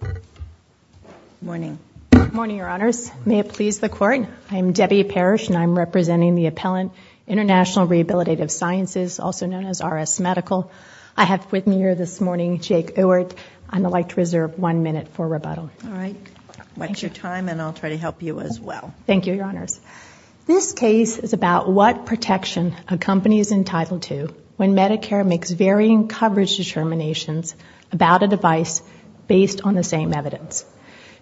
Good morning. Good morning, Your Honors. May it please the Court, I am Debbie Parrish, and I'm representing the appellant, International Rehabilitative Sciences, also known as RS Medical. I have with me here this morning Jake Ewart. I'd like to reserve one minute for rebuttal. All right. Watch your time, and I'll try to help you as well. Thank you, Your Honors. This case is about what protection a company is entitled to when Medicare makes varying coverage determinations about a device based on the same evidence.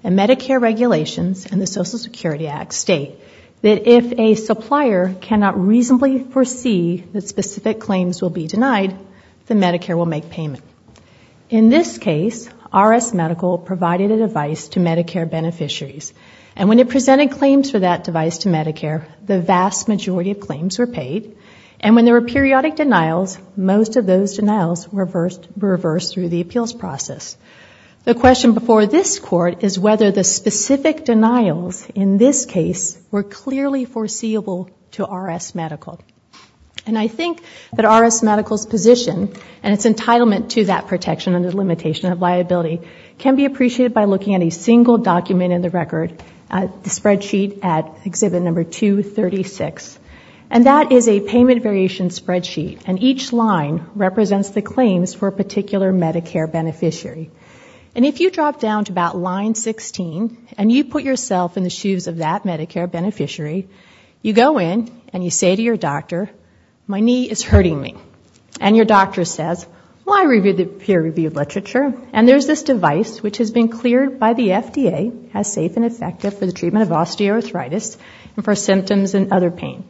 And Medicare regulations and the Social Security Act state that if a supplier cannot reasonably foresee that specific claims will be denied, then Medicare will make payment. In this case, RS Medical provided a device to Medicare beneficiaries. And when it presented claims for that device to Medicare, the vast majority of claims were paid. And when there were periodic denials, most of those denials were reversed through the appeals process. The question before this Court is whether the specific denials in this case were clearly foreseeable to RS Medical. And I think that RS Medical's position and its entitlement to that protection under the limitation of liability can be appreciated by looking at a single document in the record, the spreadsheet at Exhibit Number 236. And that is a payment variation spreadsheet. And each line represents the claims for a particular Medicare beneficiary. And if you drop down to about line 16 and you put yourself in the shoes of that Medicare beneficiary, you go in and you say to your doctor, my knee is hurting me. And your doctor says, well, I reviewed the peer-reviewed literature, and there's this device which has been cleared by the FDA as safe and effective for the treatment of osteoarthritis and for symptoms and other pain.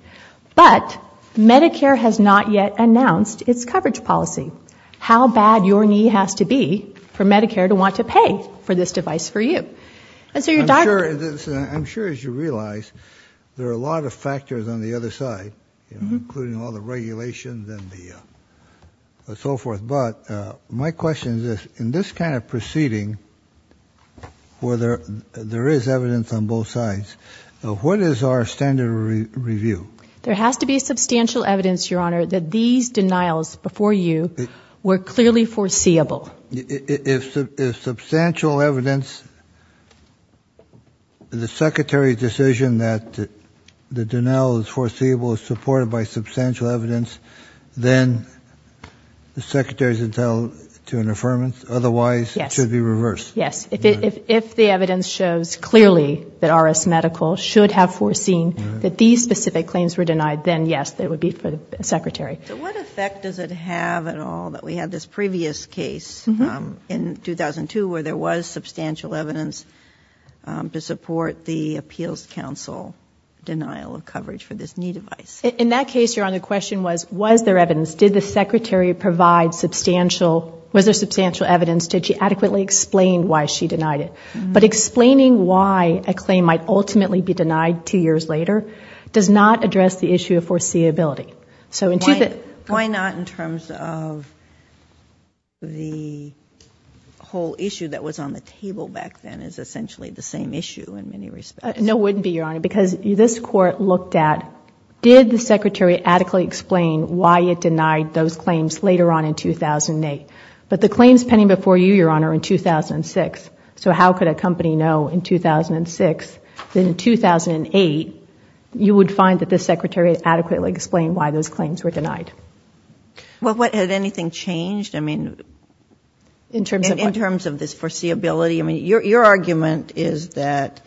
But Medicare has not yet announced its coverage policy. How bad your knee has to be for Medicare to want to pay for this device for you? And so your doctor... I'm sure, as you realize, there are a lot of factors on the other side, including all the regulations and the so forth. But my question is this. In this kind of proceeding where there is evidence on both sides, what is our standard of review? There has to be substantial evidence, Your Honor, that these denials before you were clearly foreseeable. If substantial evidence, the Secretary's decision that the denial is foreseeable is supported by substantial evidence, then the Secretary's entitled to an affirmance. Otherwise, it should be reversed. Yes. If the evidence shows clearly that RS Medical should have foreseen that these specific claims were denied, then yes, it would be for the Secretary. So what effect does it have at all that we had this previous case in 2002 where there was substantial evidence to support the Appeals Council denial of coverage for this knee device? In that case, Your Honor, the question was, was there evidence? Did the Secretary provide substantial, was there substantial evidence? Did she adequately explain why she denied it? But explaining why a claim might ultimately be denied two years later does not address the issue of foreseeability. Why not in terms of the whole issue that was on the table back then is essentially the same issue in many respects? No, it wouldn't be, Your Honor, because this Court looked at, did the Secretary adequately explain why it denied those claims later on in 2008? But the claims pending before you, Your Honor, in 2006, so how could a company know in 2006 that in 2008, you would find that the Secretary had adequately explained why those claims were denied? Well, had anything changed, I mean, in terms of this foreseeability? I mean, your argument is that,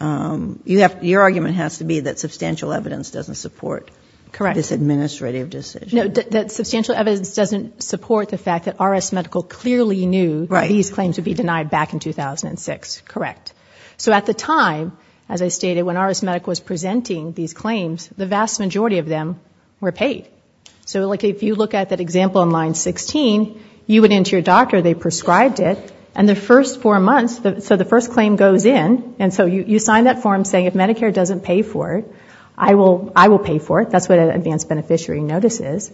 your argument has to be that substantial evidence doesn't support this administrative decision. No, that substantial evidence doesn't support the fact that RS Medical clearly knew these claims would be denied back in 2006. Correct. So at the time, as I stated, when RS Medical was presenting these claims, the vast majority of them were paid. So if you look at that example in line 16, you went in to your doctor, they prescribed it, and the first four months, so the first claim goes in, and so you sign that form saying, if Medicare doesn't pay for it, I will pay for it. That's what an advanced beneficiary notice is.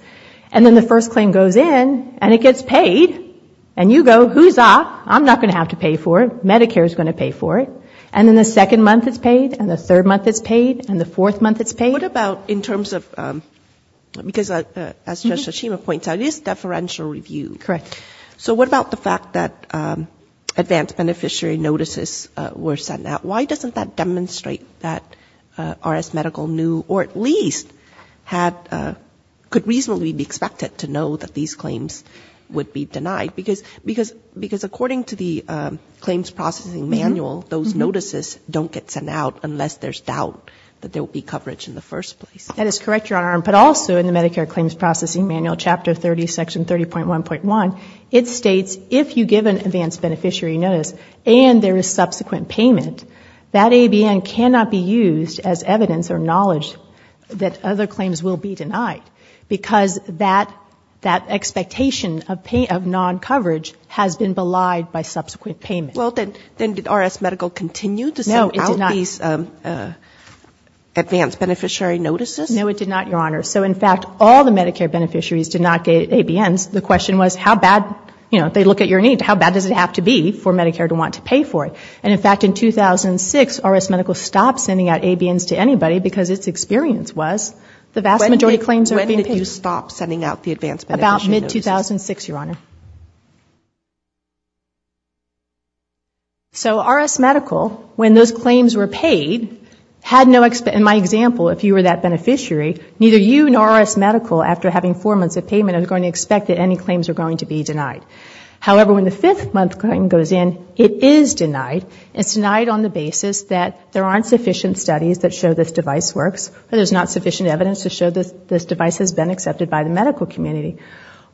And then the first claim goes in, and it gets paid, and you go, who's up? I'm not going to have to pay for it. Medicare is going to pay for it. And then the second month it's paid, and the third month it's paid, and the fourth month it's paid. What about in terms of, because as Judge Tsushima points out, it is deferential review. Correct. So what about the fact that advanced beneficiary notices were sent out? Why doesn't that demonstrate that RS Medical knew, or at least could reasonably be expected to know that these claims would be denied? Because according to the claims processing manual, those notices don't get sent out unless there's doubt that there will be coverage in the first place. That is correct, Your Honor. But also in the Medicare claims processing manual, Chapter 30, Section 30.1.1, it states if you give an advanced beneficiary notice and there is subsequent payment, that ABN cannot be used as evidence or knowledge that other claims will be denied. Because that expectation of non-coverage has been belied by subsequent payment. Well, then did RS Medical continue to send out these advanced beneficiary notices? No, it did not, Your Honor. So in fact, all the Medicare beneficiaries did not get ABNs. The question was how bad, you know, they look at your need, how bad does it have to be for Medicare to want to pay for it? And in fact, in 2006, RS Medical stopped sending out ABNs to anybody because its experience was the vast majority of claims are being paid. When did you stop sending out the advanced beneficiary notices? About mid-2006, Your Honor. So RS Medical, when those claims were paid, had no, in my example, if you were that beneficiary, neither you nor RS Medical, after having four months of payment, are going to expect that any claims are going to be denied. However, when the fifth month claim goes in, it is denied. It's denied on the basis that there aren't sufficient studies that show this device works, or there's not sufficient evidence to show this device has been accepted by the medical community.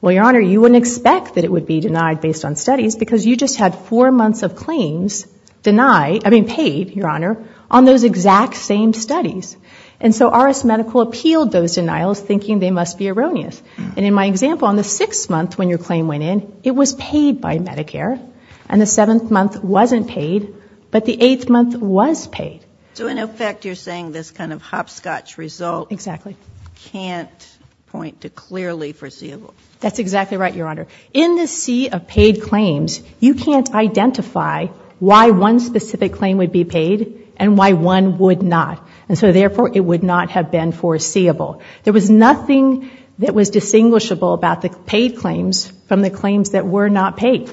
Well, Your Honor, you wouldn't expect that it would be denied based on studies because you just had four months of claims denied, I mean paid, Your Honor, on those exact same studies. And so RS Medical appealed those denials thinking they must be erroneous. And in my example, on the sixth month when your claim went in, it was paid by Medicare, and the seventh month wasn't paid, but the eighth month was paid. So in effect, you're saying this kind of hopscotch result can't point to clearly foreseeable. That's exactly right, Your Honor. In the sea of paid claims, you can't identify why one specific claim would be paid and why one would not. And so therefore, it would not have been foreseeable. There was nothing that was distinguishable about the paid claims from the claims that were not paid.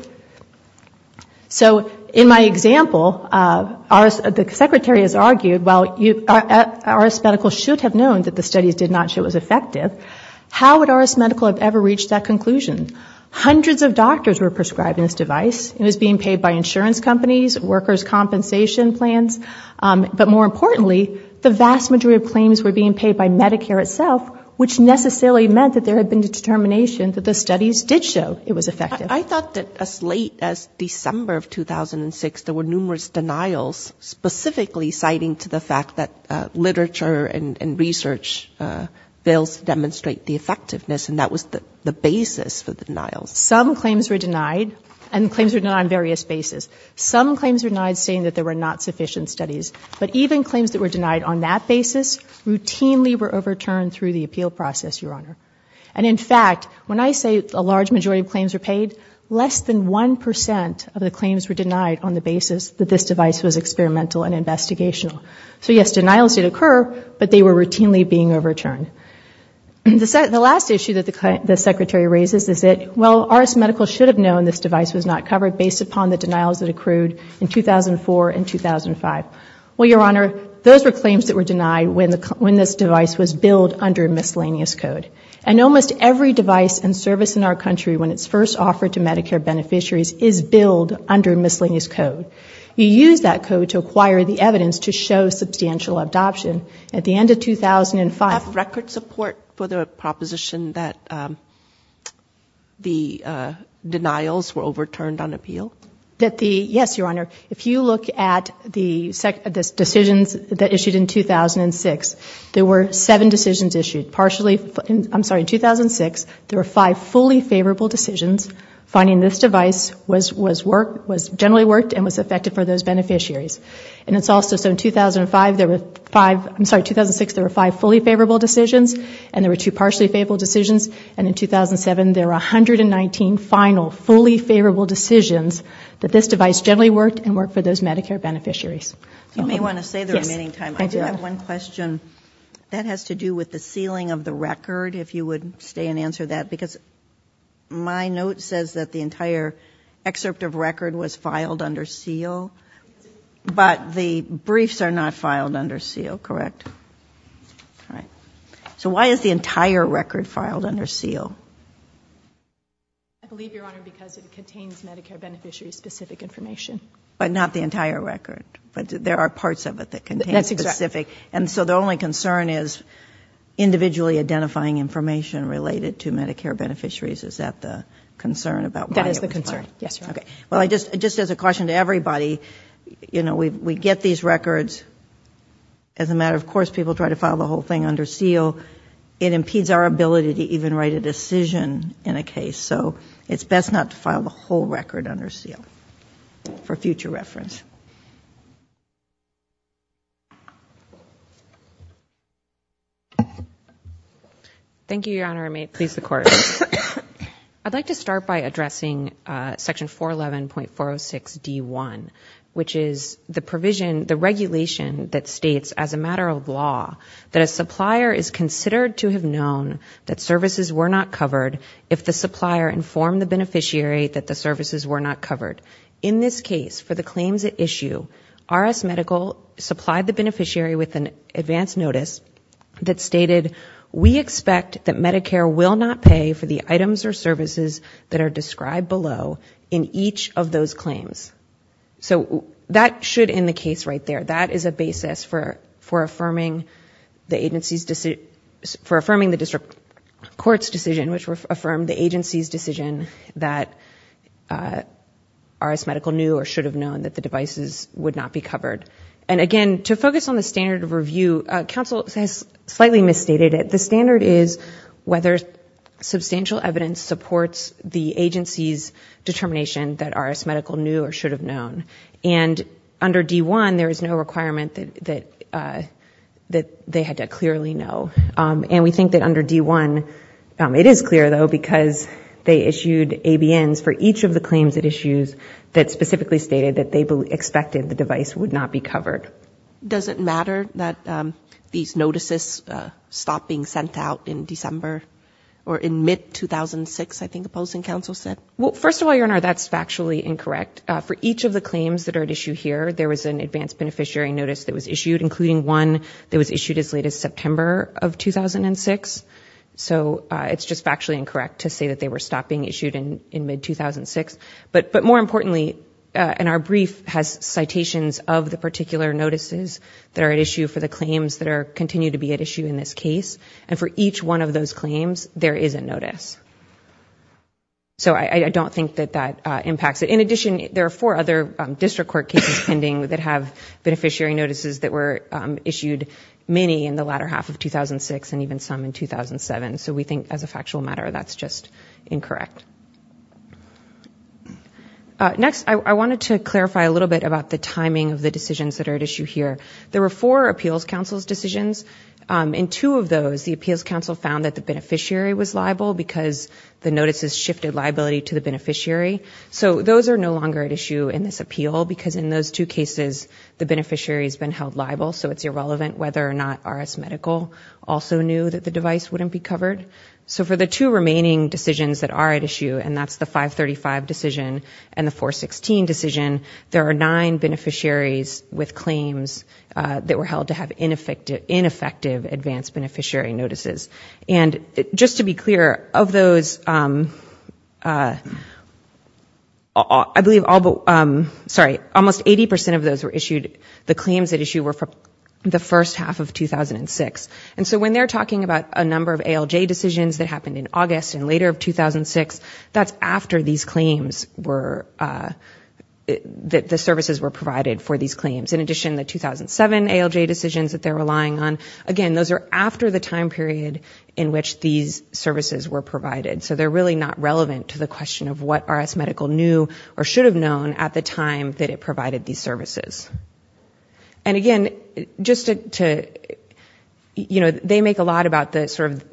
So in my example, the Secretary has argued, while RS Medical should have known that the studies did not show it was effective, how would RS Medical have ever reached that conclusion? Hundreds of doctors were prescribed this device. It was being paid by insurance companies, workers' compensation plans, but more importantly, the vast majority of claims were being paid by Medicare itself, which necessarily meant that there had been a determination that the studies did show it was effective. I thought that as late as December of 2006, there were numerous denials specifically citing to the fact that literature and research fails to demonstrate the effectiveness, and that was the basis for the denials. Some claims were denied, and claims were denied on various bases. Some claims were denied saying that there were not sufficient studies, but even claims that were denied on that basis routinely were overturned through the appeal process, Your Honor. And in fact, when I say a large majority of claims were paid, less than 1% of the claims were denied on the basis that this device was experimental and investigational. So yes, denials did occur, but they were routinely being overturned. The last issue that the Secretary raises is that, well, RS Medical should have known this device was not covered based upon the Well, Your Honor, those were claims that were denied when this device was billed under miscellaneous code. And almost every device and service in our country, when it's first offered to Medicare beneficiaries, is billed under miscellaneous code. You use that code to acquire the evidence to show substantial adoption. At the end of 2005, Do you have record support for the proposition that the denials were overturned on appeal? Yes, Your Honor. If you look at the decisions that issued in 2006, there were seven decisions issued. In 2006, there were five fully favorable decisions. Finding this device generally worked and was effective for those beneficiaries. In 2006, there were five fully favorable decisions, and there were two partially favorable decisions. And in 2007, there were 119 final fully favorable decisions that this device generally worked and worked for those Medicare beneficiaries. You may want to say the remaining time. I do have one question. That has to do with the sealing of the record, if you would stay and answer that, because my note says that the entire excerpt of record was filed under seal, but the briefs are not filed under seal, correct? All right. So why is the entire record filed under seal? I believe, Your Honor, because it contains Medicare beneficiaries' specific information. But not the entire record. But there are parts of it that contain specific. That's correct. And so the only concern is individually identifying information related to Medicare beneficiaries. Is that the concern about why it was filed? That is the concern, yes, Your Honor. Okay. Well, just as a caution to everybody, we get these records as a matter of course people try to file the whole thing under seal. It impedes our ability to even write a decision in a case. So it's best not to file the whole record under seal for future reference. Thank you, Your Honor. I may please the Court. I'd like to start by addressing section 411.406D1, which is the provision, the regulation that states as a matter of law that a supplier is considered to have known that services were not covered if the supplier informed the beneficiary that the services were not covered. In this case, for the claims at issue, RS Medical supplied the beneficiary with an advance notice that stated, we expect that Medicare will not pay for the items or services that are described below in each of those claims. So that should, in the case right there, that is a basis for affirming the district court's decision, which affirmed the agency's decision that RS Medical knew or should have known that the devices would not be covered. And again, to focus on the standard of review, counsel has slightly misstated it. The standard is whether substantial evidence supports the agency's decision that the beneficiary should have known. And under D1, there is no requirement that they had to clearly know. And we think that under D1, it is clear though, because they issued ABNs for each of the claims at issues that specifically stated that they expected the device would not be covered. Does it matter that these notices stop being sent out in December or in mid 2006, I think the opposing counsel said? Well, first of all, Your Honor, that's factually incorrect. For each of the claims that are at issue here, there was an advanced beneficiary notice that was issued, including one that was issued as late as September of 2006. So it's just factually incorrect to say that they were stopped being issued in mid 2006. But more importantly, and our brief has citations of the particular notices that are at issue for the claims that continue to be at issue in this case. And for each one of those claims, there is a notice. So I don't think that that impacts it. In addition, there are four other district court cases pending that have beneficiary notices that were issued many in the latter half of 2006 and even some in 2007. So we think as a factual matter, that's just incorrect. Next, I wanted to clarify a little bit about the timing of the decisions that are at issue here. There were four appeals counsel's decisions. In two of those, the appeals counsel found that the beneficiary was liable because the notices shifted liability to the beneficiary. So those are no longer at issue in this appeal because in those two cases, the beneficiary has been held liable. So it's irrelevant whether or not RS Medical also knew that the device wouldn't be covered. So for the two remaining decisions that are at issue, and that's the 535 decision and the 416 decision, there are nine beneficiaries with claims that were held to have ineffective advance beneficiary notices. And just to be clear, of those, I believe almost 80% of those were issued, the claims at issue were for the first half of 2006. And so when they're talking about a number of ALJ decisions that happened in August and later of 2006, that's after these claims were, the services were provided for these claims. In addition, the 2007 ALJ decisions that they're relying on, again, those are after the time period in which these services were provided. So they're really not relevant to the question of what RS Medical knew or should have known at the time that it provided these services. And again, just to, you know, they make a lot about the sort of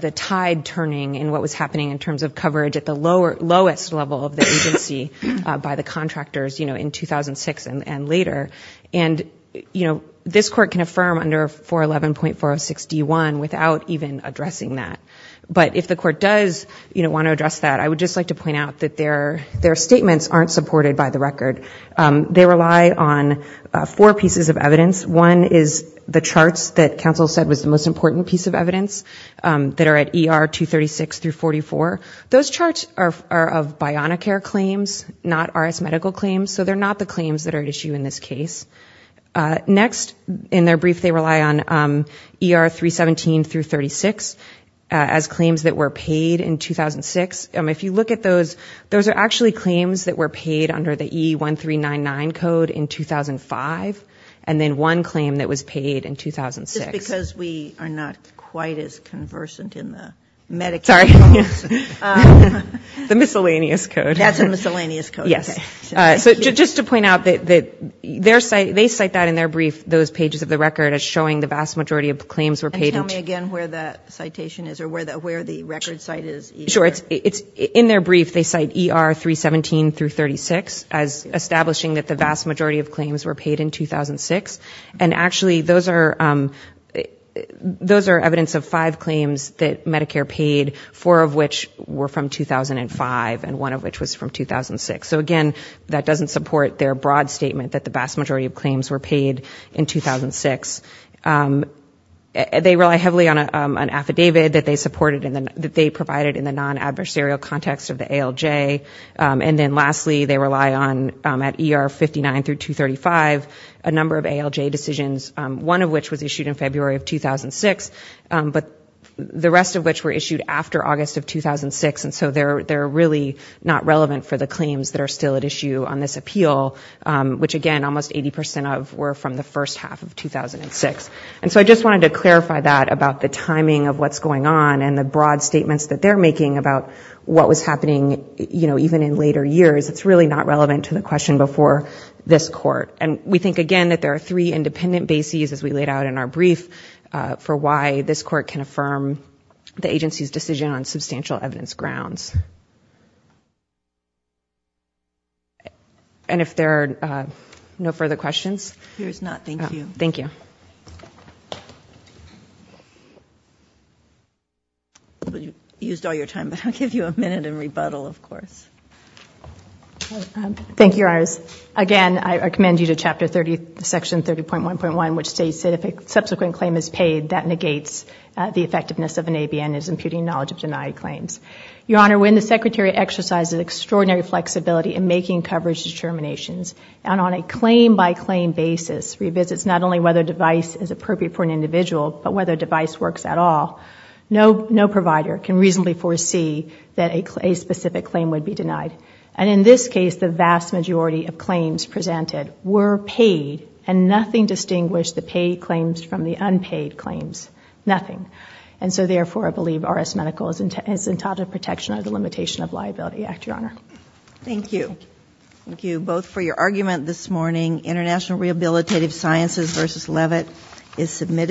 the tide turning and what was happening in terms of coverage at the lowest level of the agency by the contractors, you know, in 2006 and later. And, you know, this court can affirm under 411.406D1 without even addressing that. But if the court does want to address that, I would just like to point out that their statements aren't supported by the record. They rely on four pieces of evidence. One is the charts that counsel said was the most important piece of evidence that are at ER 236 through 44. Those charts are of Bionicare claims, not RS Medical claims. So they're not the claims that are at issue in this case. Next, in their brief, they rely on ER 317 through 36 as claims that were paid in 2006. If you look at those, those are actually claims that were paid under the E1399 code in 2005. And then one claim that was paid in 2006. Just because we are not quite as conversant in the Medicaid. Sorry. The miscellaneous code. That's a miscellaneous code. Yes. So just to point out that their site, they cite that in their brief, those pages of the record as showing the vast majority of the claims were paid. And tell me again where the citation is or where the record site is. Sure. It's in their brief. They cite ER 317 through 36 as establishing that the vast majority of claims were paid in 2006. And actually those are, those are evidence of five claims that Medicare paid, four of which were from 2005 and one of which was from 2006. So again, that doesn't support their broad statement that the vast majority of claims were paid in 2006. They rely heavily on an affidavit that they supported in the, that they provided in the non-adversarial context of the ALJ. And then lastly, they rely on at ER 59 through 235, a number of ALJ decisions, one of which was issued in February of 2006, but the rest of which were issued after August of 2006. And so they're, they're really not relevant for the claims that are still at issue on this appeal, which again, almost 80% of were from the first half of 2006. And so I just wanted to clarify that about the timing of what's going on and the broad statements that they're making about what was happening, you know, even in later years, it's really not relevant to the question before this court. And we think again that there are three independent bases as we laid out in our brief for why this court can affirm the agency's decision on substantial evidence grounds. And if there are no further questions. Here's not. Thank you. Thank you. You used all your time, but I'll give you a minute and rebuttal of course. Thank you. Again, I recommend you to chapter 30, section 30.1.1, which states that if a subsequent claim is paid that negates the secretary exercises extraordinary flexibility in making coverage determinations. And on a claim by claim basis, revisits not only whether device is appropriate for an individual, but whether device works at all. No, no provider can reasonably foresee that a specific claim would be denied. And in this case, the vast majority of claims presented were paid and nothing distinguished the paid claims from the unpaid claims, nothing. And so therefore I believe RS medical is entitled to protection of the limitation of liability act. Your honor. Thank you. Thank you both for your argument this morning, international rehabilitative sciences versus Levitt is submitted.